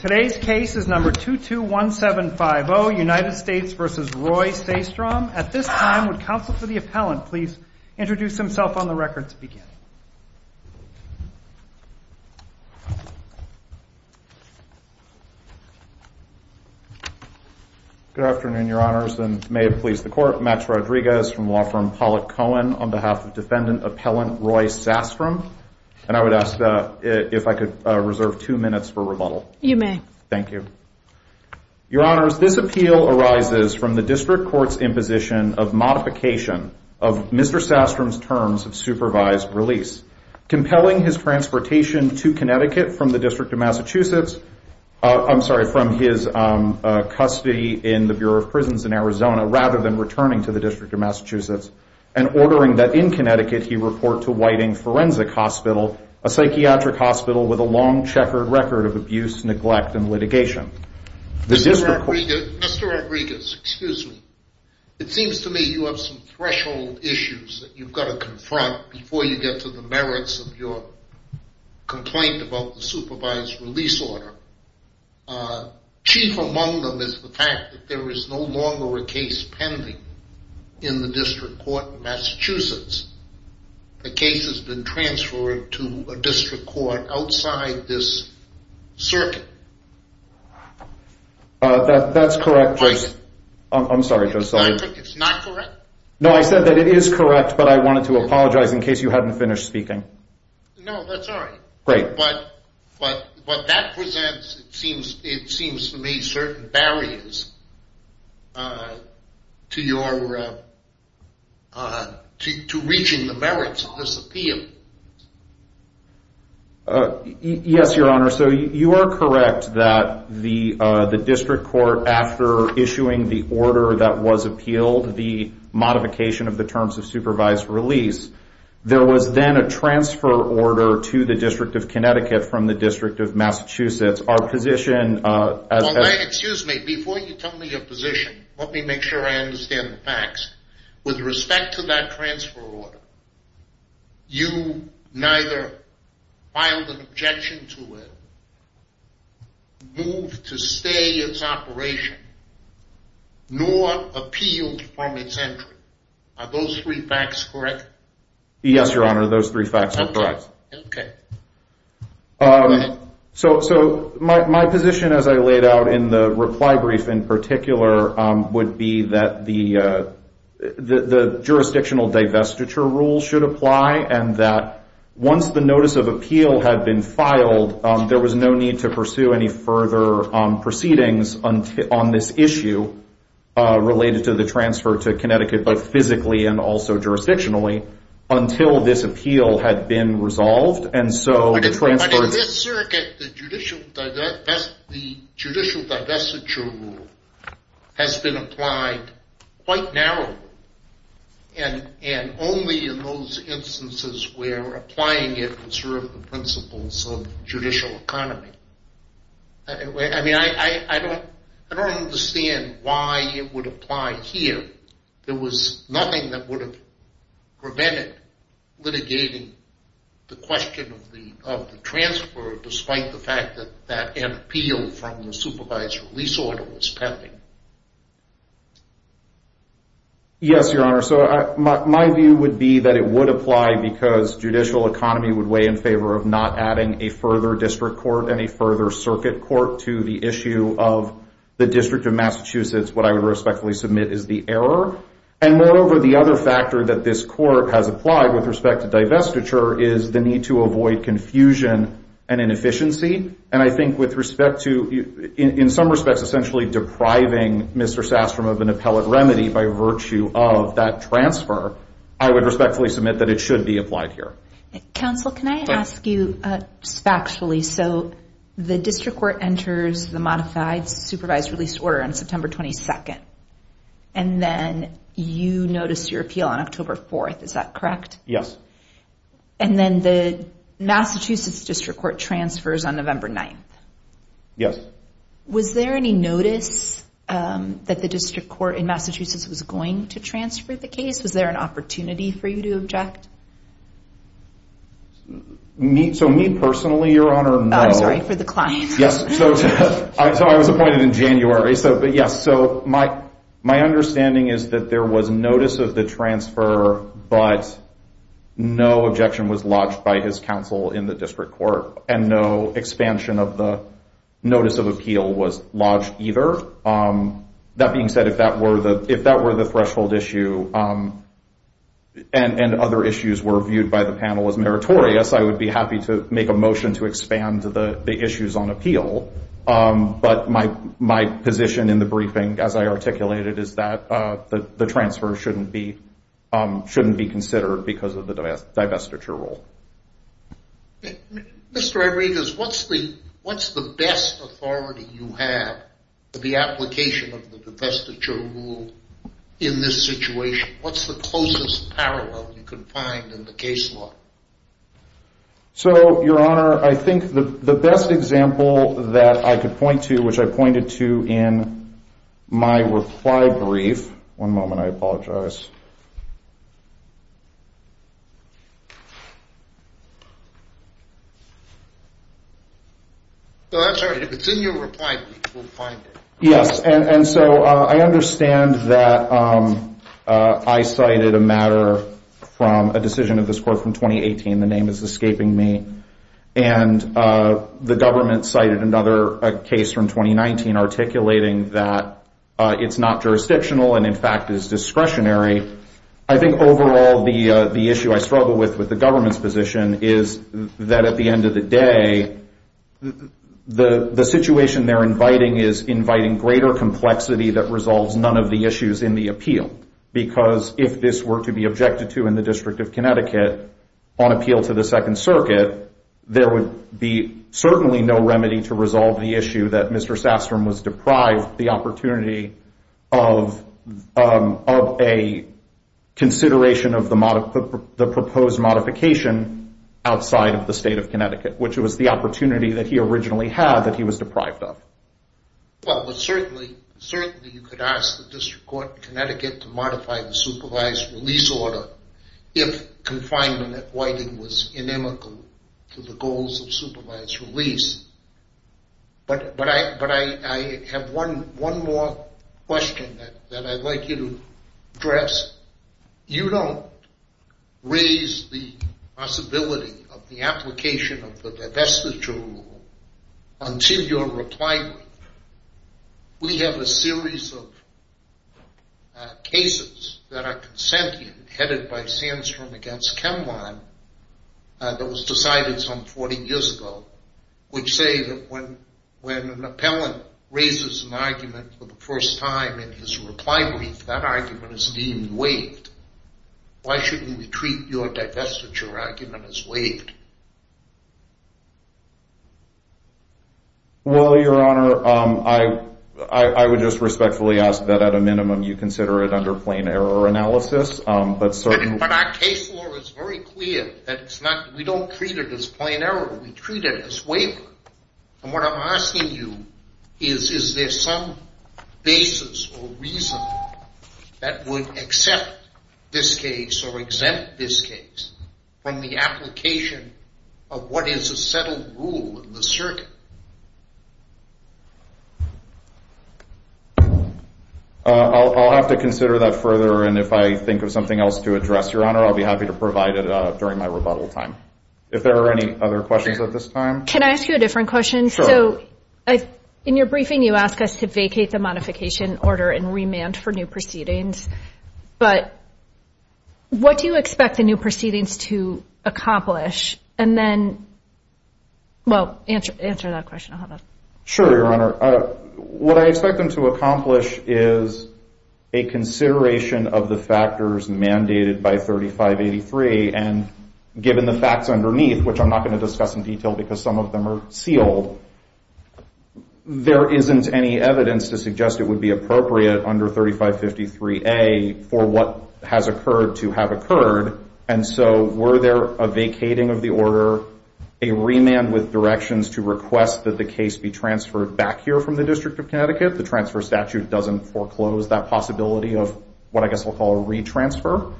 Today's case is number 221750, United States v. Roy Sastrom. At this time, would counsel for the appellant please introduce himself on the record to begin? Good afternoon, your honors, and may it please the court. Max Rodriguez from law firm Pollack Cohen on behalf of defendant appellant Roy Sastrom. And I would ask if I could reserve two minutes for rebuttal. You may. Thank you. Your honors, this appeal arises from the district court's imposition of modification of Mr. Sastrom's terms of supervised release, compelling his transportation to Connecticut from the District of Massachusetts, I'm sorry, from his custody in the Bureau of Prisons in Arizona, rather than returning to the District of Massachusetts, and ordering that in Connecticut he report to Whiting Forensic Hospital, a psychiatric hospital with a long checkered record of abuse, neglect, and litigation. Mr. Rodriguez, excuse me. It seems to me you have some threshold issues that you've got to confront before you get to the merits of your complaint about the supervised release order. Chief among them is the fact that there is no longer a case pending in the district court in Massachusetts. The case has been transferred to a district court outside this circuit. That's correct, Joseph. I'm sorry, Joseph. It's not correct? No, I said that it is correct, but I wanted to apologize in case you hadn't finished speaking. No, that's all right. Great. But that presents, it seems to me, certain barriers to reaching the merits of this appeal. Yes, Your Honor. So you are correct that the district court, after issuing the order that was appealed, the modification of the terms of supervised release, there was then a transfer order to the District of Connecticut Our position as a district court is that the District Excuse me. Before you tell me your position, let me make sure I understand the facts. With respect to that transfer order, you neither filed an objection to it, moved to stay its operation, nor appealed from its entry. Are those three facts correct? Yes, Your Honor. Those three facts are correct. OK. So my position, as I laid out in the reply brief in particular, would be that the jurisdictional divestiture rule should apply, and that once the notice of appeal had been filed, there was no need to pursue any further proceedings on this issue related to the transfer to Connecticut, both physically and also jurisdictionally, until this appeal had been resolved. But in this circuit, the judicial divestiture rule has been applied quite narrowly, and only in those instances where applying it would serve the principles of judicial economy. I mean, I don't understand why it would apply here. There was nothing that would have prevented litigating the question of the transfer, despite the fact that an appeal from the supervised release order was pending. Yes, Your Honor. So my view would be that it would apply because judicial economy would weigh in favor of not adding a further district court and a further circuit court to the issue of the District of Massachusetts. What I would respectfully submit is the error. And moreover, the other factor that this court has applied with respect to divestiture is the need to avoid confusion and inefficiency. And I think with respect to, in some respects, essentially depriving Mr. Sastrom of an appellate remedy by virtue of that transfer, I would respectfully submit that it should be applied here. Counsel, can I ask you factually? So the district court enters the modified supervised release order on September 22nd. And then you notice your appeal on October 4th. Is that correct? Yes. And then the Massachusetts district court transfers on November 9th. Yes. Was there any notice that the district court in Massachusetts was going to transfer the case? Was there an opportunity for you to object? So me personally, Your Honor, no. I'm sorry, for the client. Yes. So I was appointed in January. But yes, so my understanding is that there was notice of the transfer, but no objection was lodged by his counsel in the district court. And no expansion of the notice of appeal was lodged either. That being said, if that were the threshold issue and other issues were viewed by the panel as meritorious, I would be happy to make a motion to expand the issues on appeal. But my position in the briefing, as I articulated, is that the transfer shouldn't be considered because of the divestiture rule. Mr. Rodriguez, what's the best authority you have for the application of the divestiture rule in this situation? What's the closest parallel you could find in the case law? So, Your Honor, I think the best example that I could point to, which I pointed to in my reply brief. One moment, I apologize. No, that's all right. It's in your reply brief. We'll find it. Yes, and so I understand that I cited a matter from a decision of this court from 2018. The name is escaping me. And the government cited another case from 2019 articulating that it's not jurisdictional and, in fact, is discretionary. I think, overall, the issue I struggle with with the government's position is that, at the end of the day, the situation they're inviting is inviting greater complexity that resolves none of the issues in the appeal. Because if this were to be objected to in the District of Connecticut on appeal to the Second Circuit, there would be certainly no remedy to resolve the issue that Mr. Sastrom was deprived the opportunity of a consideration of the proposed modification outside of the state of Connecticut, which was the opportunity that he originally had that he was deprived of. Well, certainly, you could ask the District Court in Connecticut to modify the supervised release order if confinement at Whiting was inimical to the goals of supervised release. But I have one more question that I'd like you to address. You don't raise the possibility of the application of the divestiture rule until you're replied with. We have a series of cases that are sentient, headed by Sandstrom against Kemlon, that was decided some 40 years ago, which say that when an appellant raises an argument for the first time in his reply brief, that argument is deemed waived. Why shouldn't we treat your divestiture argument as waived? Well, Your Honor, I would just respectfully ask that, at a minimum, you consider it under plain error analysis, but certainly But our case law is very clear that we don't treat it as plain error. We treat it as waiver. And what I'm asking you is, is there some basis or reason that would accept this case or exempt this case from the application of what is a settled rule in the circuit? I'll have to consider that further. And if I think of something else to address, Your Honor, I'll be happy to provide it during my rebuttal time. If there are any other questions at this time? Can I ask you a different question? Sure. So in your briefing, you ask us to vacate the modification order and remand for new proceedings. But what do you expect the new proceedings to accomplish? And then, well, answer that question. I'll have that. Sure, Your Honor. What I expect them to accomplish is a consideration of the factors mandated by 3583. And given the facts underneath, which I'm not going to discuss in detail because some of them are sealed, there isn't any evidence to suggest it would be appropriate under 3553A for what has occurred to have occurred. And so were there a vacating of the order, a remand with directions to request that the case be transferred back here from the District of Connecticut, the transfer statute doesn't foreclose that possibility of what I guess we'll call a re-transfer,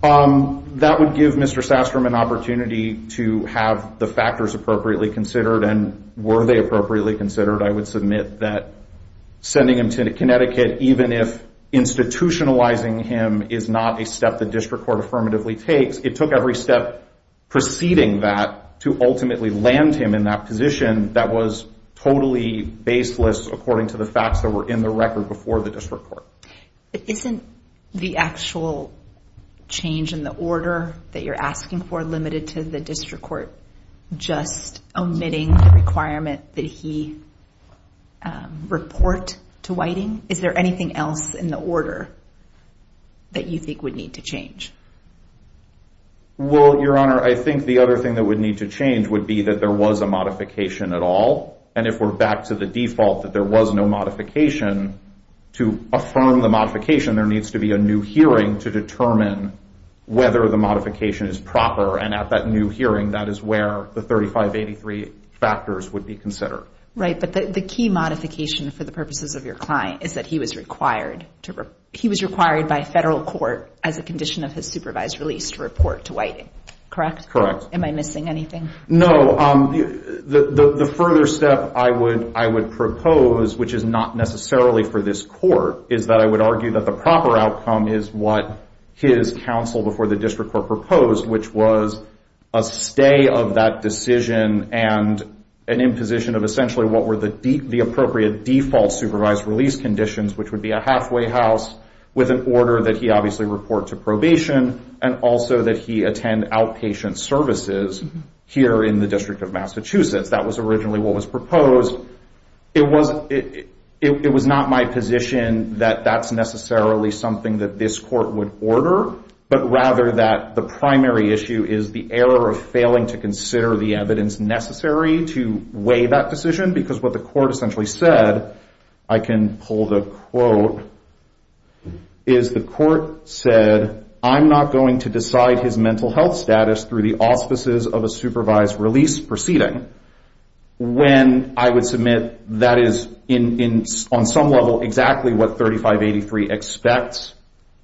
that would give Mr. Sastrom an opportunity to have the factors appropriately considered. And were they appropriately considered, I would submit that sending him to Connecticut, even if institutionalizing him is not a step the district court affirmatively takes, it took every step preceding that to ultimately land him in that position that was totally baseless according to the facts that were in the record before the district court. Isn't the actual change in the order that you're asking for limited to the district court just omitting the requirement that he report to Whiting? Is there anything else in the order that you think would need to change? Well, Your Honor, I think the other thing that would need to change would be that there was a modification at all. And if we're back to the default that there was no modification, to affirm the modification, there needs to be a new hearing to determine whether the modification is proper. And at that new hearing, that is where the 3583 factors would be considered. Right, but the key modification for the purposes of your client is that he was required by federal court as a condition of his supervised release to report to Whiting, correct? Correct. Am I missing anything? No, the further step I would propose, which is not necessarily for this court, is that I would argue that the proper outcome is what his counsel before the district court proposed, which was a stay of that decision and an imposition of essentially what were the appropriate default supervised release conditions, which would be a halfway house with an order that he obviously report to probation and also that he attend outpatient services here in the District of Massachusetts. That was originally what was proposed. It was not my position that that's necessarily something that this court would order, but rather that the primary issue is the error of failing to consider the evidence necessary to weigh that decision, because what the court essentially said, I can pull the quote, is the court said I'm not going to decide his mental health status through the auspices of a supervised release proceeding when I would submit that is on some level exactly what 3583 expects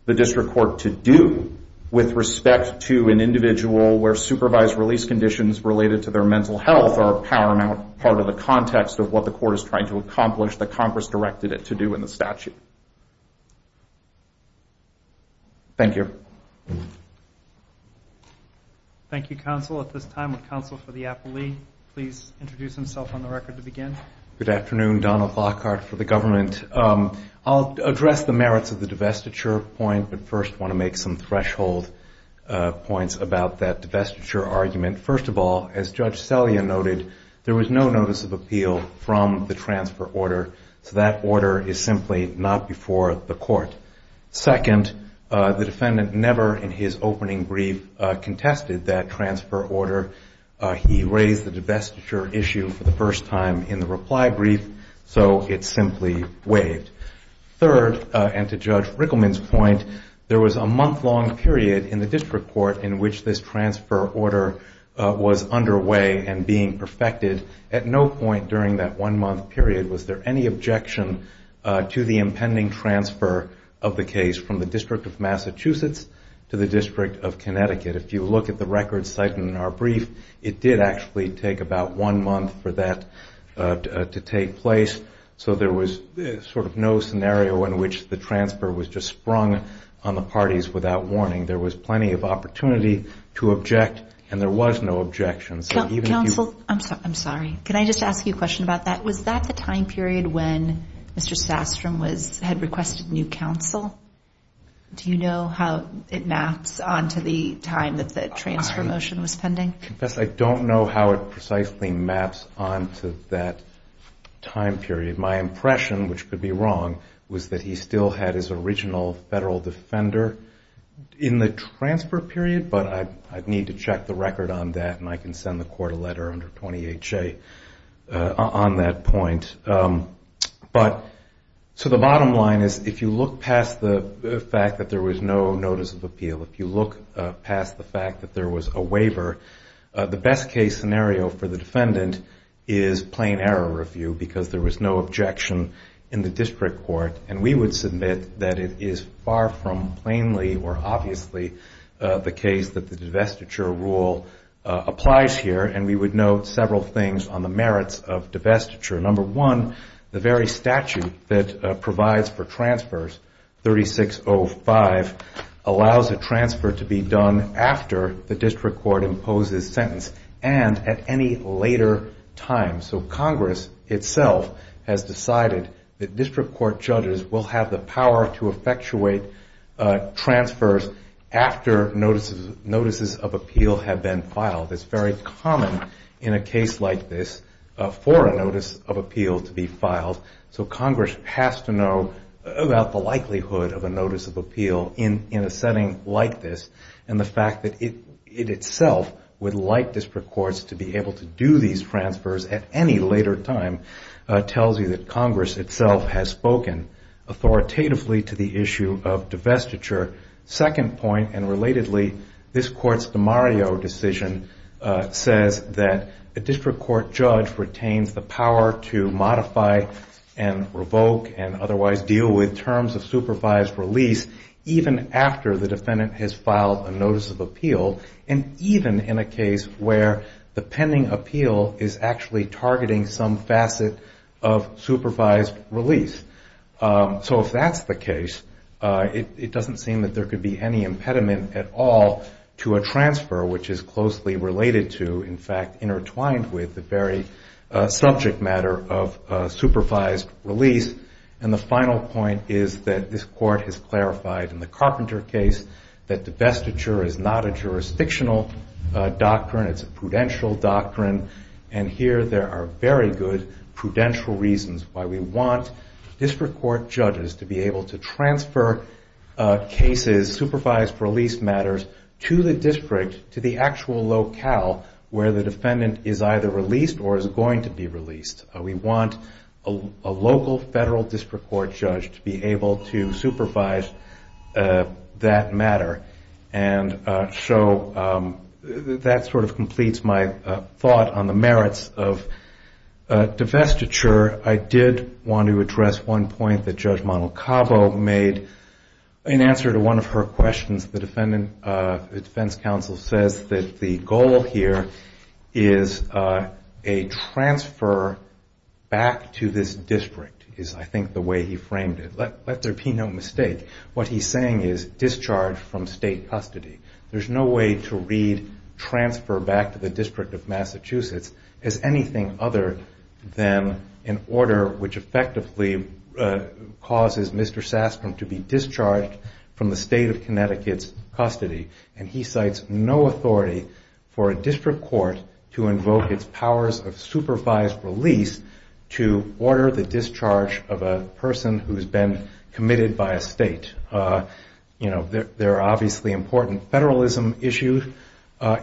the district court to do with respect to an individual where supervised release conditions related to their mental health are a paramount part of the context of what the court is trying to accomplish that Congress directed it to do in the statute. Thank you. Thank you, counsel. At this time, would counsel for the appellee please introduce himself on the record to begin? Good afternoon. Donald Lockhart for the government. I'll address the merits of the divestiture point, but first want to make some threshold points about that divestiture argument. First of all, as Judge Selya noted, there was no notice of appeal from the transfer order, so that order is simply not before the court. Second, the defendant never in his opening brief contested that transfer order. He raised the divestiture issue for the first time in the reply brief, so it simply waived. Third, and to Judge Rickleman's point, there was a month-long period in the district court in which this transfer order was underway and being perfected. At no point during that one month period was there any objection to the impending transfer of the case from the District of Massachusetts to the District of Connecticut. If you look at the record cited in our brief, it did actually take about one month for that to take place. So there was sort of no scenario in which the transfer was just sprung on the parties without warning. There was plenty of opportunity to object, and there was no objection. Counsel, I'm sorry, can I just ask you a question about that? Was that the time period when Mr. Sastrom had requested new counsel? Do you know how it maps onto the time that the transfer motion was pending? I don't know how it precisely maps onto that time period. My impression, which could be wrong, was that he still had his original federal defender in the transfer period. But I'd need to check the record on that, and I can send the court a letter under 20 HA on that point. So the bottom line is, if you look past the fact that there was no notice of appeal, if you look past the fact that there was a waiver, the best case scenario for the defendant is plain error review, because there was no objection in the district court. And we would submit that it is far from plainly or obviously the case that the divestiture rule applies here. And we would note several things on the merits of divestiture. Number one, the very statute that provides for transfers, 3605, allows a transfer to be done after the district court imposes sentence and at any later time. So Congress itself has decided that district court judges will have the power to effectuate transfers after notices of appeal have been filed. It's very common in a case like this for a notice of appeal to be filed. So Congress has to know about the likelihood of a notice of appeal in a setting like this. And the fact that it itself would like district courts to be able to do these transfers at any later time tells you that Congress itself has spoken authoritatively to the issue of divestiture. Second point, and relatedly, this court's DeMario decision says that a district court judge retains the power to modify and revoke and otherwise deal with terms of supervised release even after the defendant has filed a notice of appeal, and even in a case where the pending appeal is actually targeting some facet of supervised release. So if that's the case, it doesn't seem that there could be any impediment at all to a transfer which is closely related to, in fact, intertwined with the very subject matter of supervised release. And the final point is that this court has clarified in the Carpenter case that divestiture is not a jurisdictional doctrine. It's a prudential doctrine. And here there are very good prudential reasons why we want district court judges to be able to transfer cases, supervised release matters, to the district, to the actual locale where the defendant is either released or is going to be released. We want a local federal district court judge to be able to supervise that matter. And so that sort of completes my thought on the merits of divestiture. I did want to address one point that Judge Mano Cabo made in answer to one of her questions. The defense counsel says that the goal here is a transfer back to this district, is I think the way he framed it. Let there be no mistake. What he's saying is discharge from state custody. There's no way to read transfer back to the District of Massachusetts as anything other than an order which effectively causes Mr. Sastrom to be discharged from the state of Connecticut's custody. And he cites no authority for a district court to invoke its powers of supervised release to order the discharge of a person who You know, there are obviously important federalism issues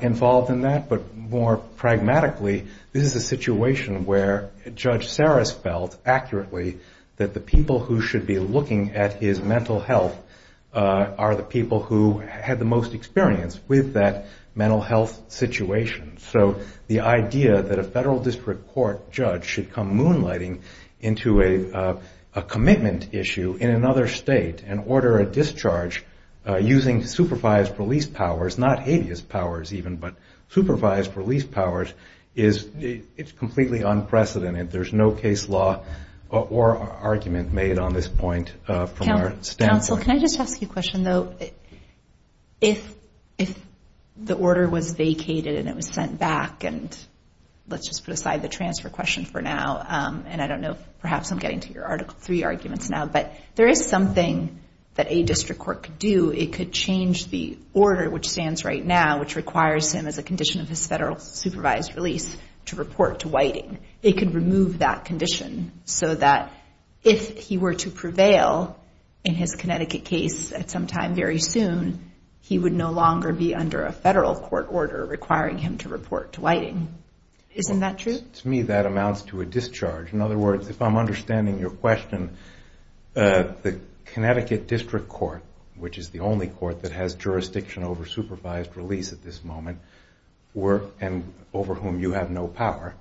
involved in that. But more pragmatically, this is a situation where Judge Sarris felt accurately that the people who should be looking at his mental health are the people who had the most experience with that mental health situation. So the idea that a federal district court judge should come moonlighting into a commitment issue in another state and order a discharge using supervised release powers, not habeas powers even, but supervised release powers, it's completely unprecedented. There's no case law or argument made on this point from our standpoint. Counsel, can I just ask you a question, though? If the order was vacated and it was sent back, and let's just put aside the transfer question for now. And I don't know, perhaps I'm getting to your Article III arguments now, but there is something that a district court could do. It could change the order which stands right now, which requires him as a condition of his federal supervised release to report to Whiting. It could remove that condition so that if he were to prevail in his Connecticut case at some time very soon, he would no longer be under a federal court order requiring him to report to Whiting. Isn't that true? To me, that amounts to a discharge. In other words, if I'm understanding your question, the Connecticut District Court, which is the only court that has jurisdiction over supervised release at this moment, and over whom you have no power,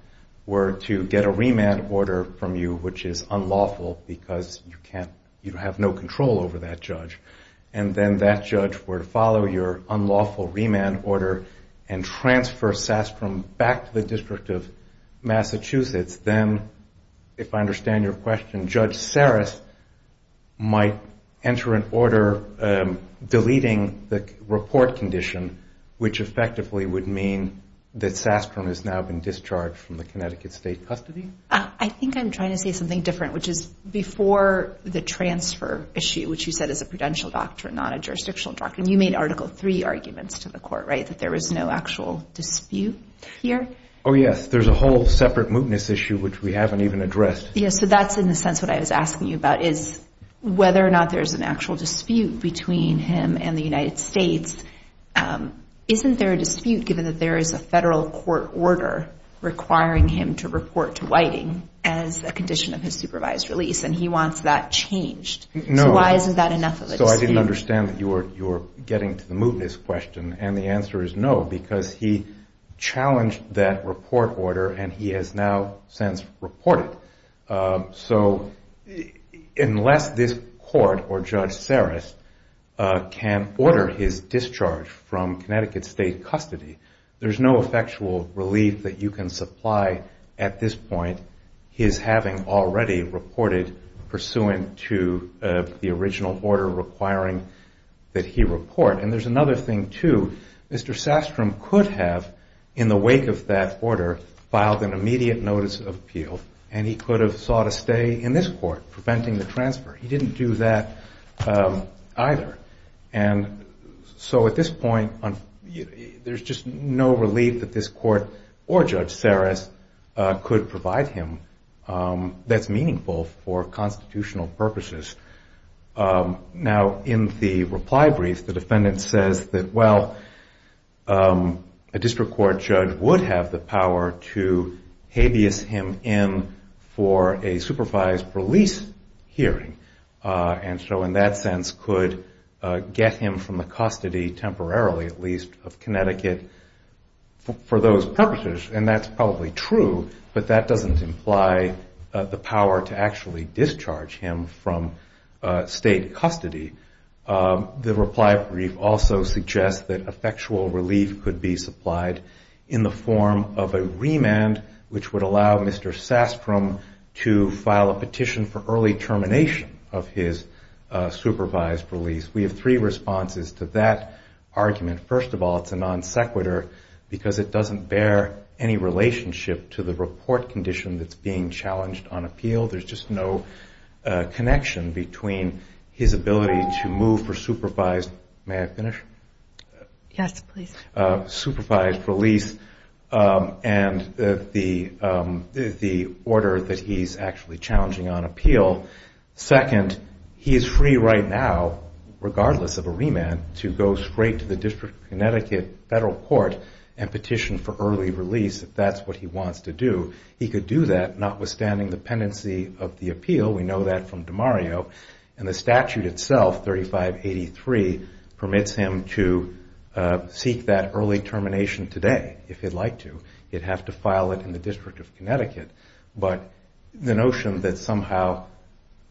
were to get a remand order from you, which is unlawful because you have no control over that judge. And then that judge were to follow your unlawful remand order and transfer Sastrom back to the District of Massachusetts. Then, if I understand your question, Judge Sarris might enter an order deleting the report condition, which effectively would mean that Sastrom has now been discharged from the Connecticut state custody? I think I'm trying to say something different, which is before the transfer issue, which you said is a prudential doctrine, not a jurisdictional doctrine. You made Article III arguments to the court, right? That there was no actual dispute here? Oh, yes. There's a whole separate mootness issue, which we haven't even addressed. Yes, so that's, in a sense, what I was asking you about, is whether or not there's an actual dispute between him and the United States. Isn't there a dispute given that there is a federal court order requiring him to report to Whiting as a condition of his supervised release? And he wants that changed. So why isn't that enough of a dispute? So I didn't understand that you were getting to the mootness question. And the answer is no, because he challenged that report order, and he has now since reported. So unless this court or Judge Saras can order his discharge from Connecticut state custody, there's no effectual relief that you can supply at this point, his having already reported pursuant to the original order requiring that he report. And there's another thing, too. Mr. Sastrom could have, in the wake of that order, filed an immediate notice of appeal, and he could have sought a stay in this court, preventing the transfer. He didn't do that either. And so at this point, there's just no relief that this court or Judge Saras could provide him that's meaningful for constitutional purposes. Now, in the reply brief, the defendant says that, well, a district court judge would have the power to habeas him in for a supervised release hearing. And so in that sense, could get him from the custody, temporarily at least, of Connecticut for those purposes. And that's probably true, but that doesn't imply the power to actually discharge him from state custody. The reply brief also suggests that effectual relief could be supplied in the form of a remand, which would allow Mr. Sastrom to file a petition for early termination of his supervised release. We have three responses to that argument. First of all, it's a non sequitur, because it doesn't bear any relationship to the report condition that's being challenged on appeal. There's just no connection between his ability to move for supervised release and the order that he's actually challenging on appeal. Second, he is free right now, regardless of a remand, to go straight to the District of Connecticut federal court and petition for early release if that's what he wants to do. He could do that, notwithstanding the pendency of the appeal. We know that from DiMario. And the statute itself, 3583, permits him to seek that early termination today, if he'd like to. He'd have to file it in the District of Connecticut. But the notion that somehow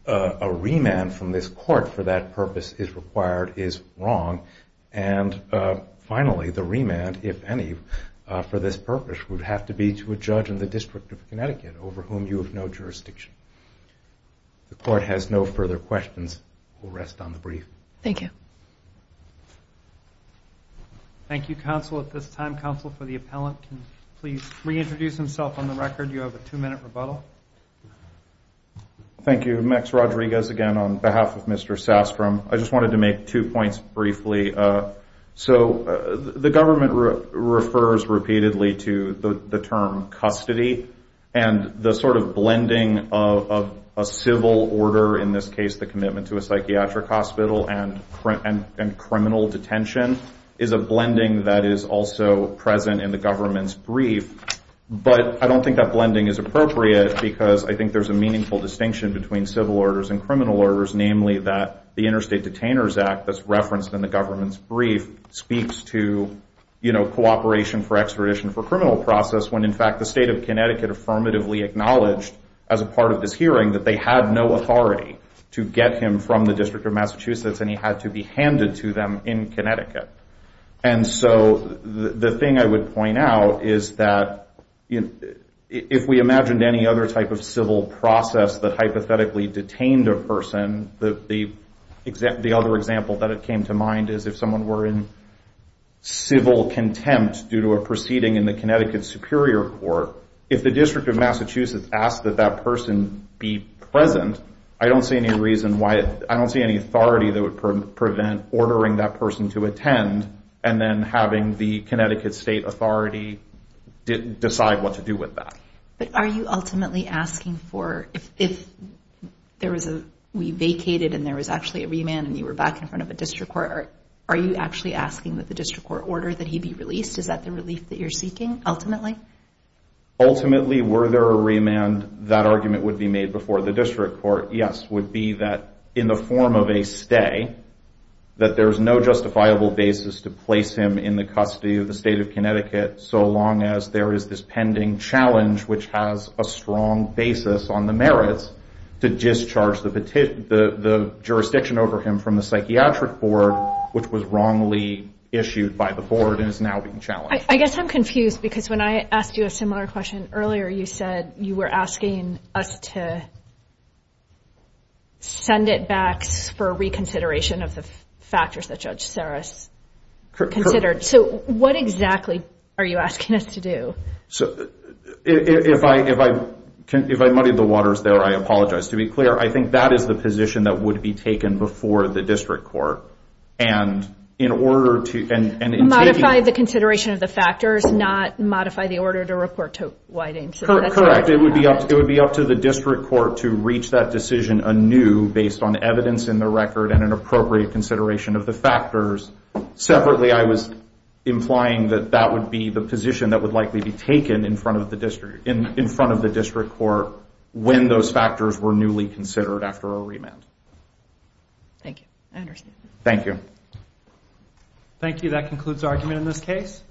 a remand from this court for that purpose is required is wrong. And finally, the remand, if any, for this purpose would have to be to a judge in the District of Connecticut over whom you have no jurisdiction. The court has no further questions. We'll rest on the brief. Thank you. Thank you, counsel, at this time. Counsel for the appellant, can you please reintroduce himself on the record? You have a two minute rebuttal. Thank you. Max Rodriguez again on behalf of Mr. Sastrom. I just wanted to make two points briefly. So the government refers repeatedly to the term custody. And the sort of blending of a civil order, in this case, the commitment to a psychiatric hospital and criminal detention is a blending that is also present in the government's brief. But I don't think that blending is appropriate, because I think there's a meaningful distinction between civil orders and criminal orders, namely that the Interstate Detainers Act that's referenced in the government's brief speaks to cooperation for extradition for criminal process when, in fact, the state of Connecticut affirmatively acknowledged as a part of this hearing that they had no authority to get him from the District of Massachusetts and he had to be handed to them in Connecticut. And so the thing I would point out is that if we imagined any other type of civil process that hypothetically detained a person, the other example that came to mind is if someone were in civil contempt due to a proceeding in the Connecticut Superior Court. If the District of Massachusetts asked that that person be present, I don't see any reason why I don't see any authority that would prevent ordering that person to attend and then having the Connecticut State Authority decide what to do with that. But are you ultimately asking for if there was a, we vacated and there was actually a remand and you were back in front of a district court, are you actually asking that the district court order that he be released? Is that the relief that you're seeking, ultimately? Ultimately, were there a remand, that argument would be made before the district court. Yes, would be that in the form of a stay, that there is no justifiable basis to place him in the custody of the state of Connecticut so long as there is this pending challenge which has a strong basis on the merits to discharge the jurisdiction over him from the psychiatric board, which was wrongly issued by the board and is now being challenged. I guess I'm confused, because when I asked you a similar question earlier, you said you were asking us to send it back for reconsideration of the factors that Judge Sarris considered. So what exactly are you asking us to do? If I muddied the waters there, I apologize. To be clear, I think that is the position that would be taken before the district court. And in order to, and in taking it. Modify the consideration of the factors, not modify the order to report to Whiting. Correct, it would be up to the district court to reach that decision anew based on evidence in the record and an appropriate consideration of the factors. Separately, I was implying that that would be the position that would likely be taken in front of the district court when those factors were newly considered after a remand. Thank you, I understand. Thank you. Thank you, that concludes our argument in this case.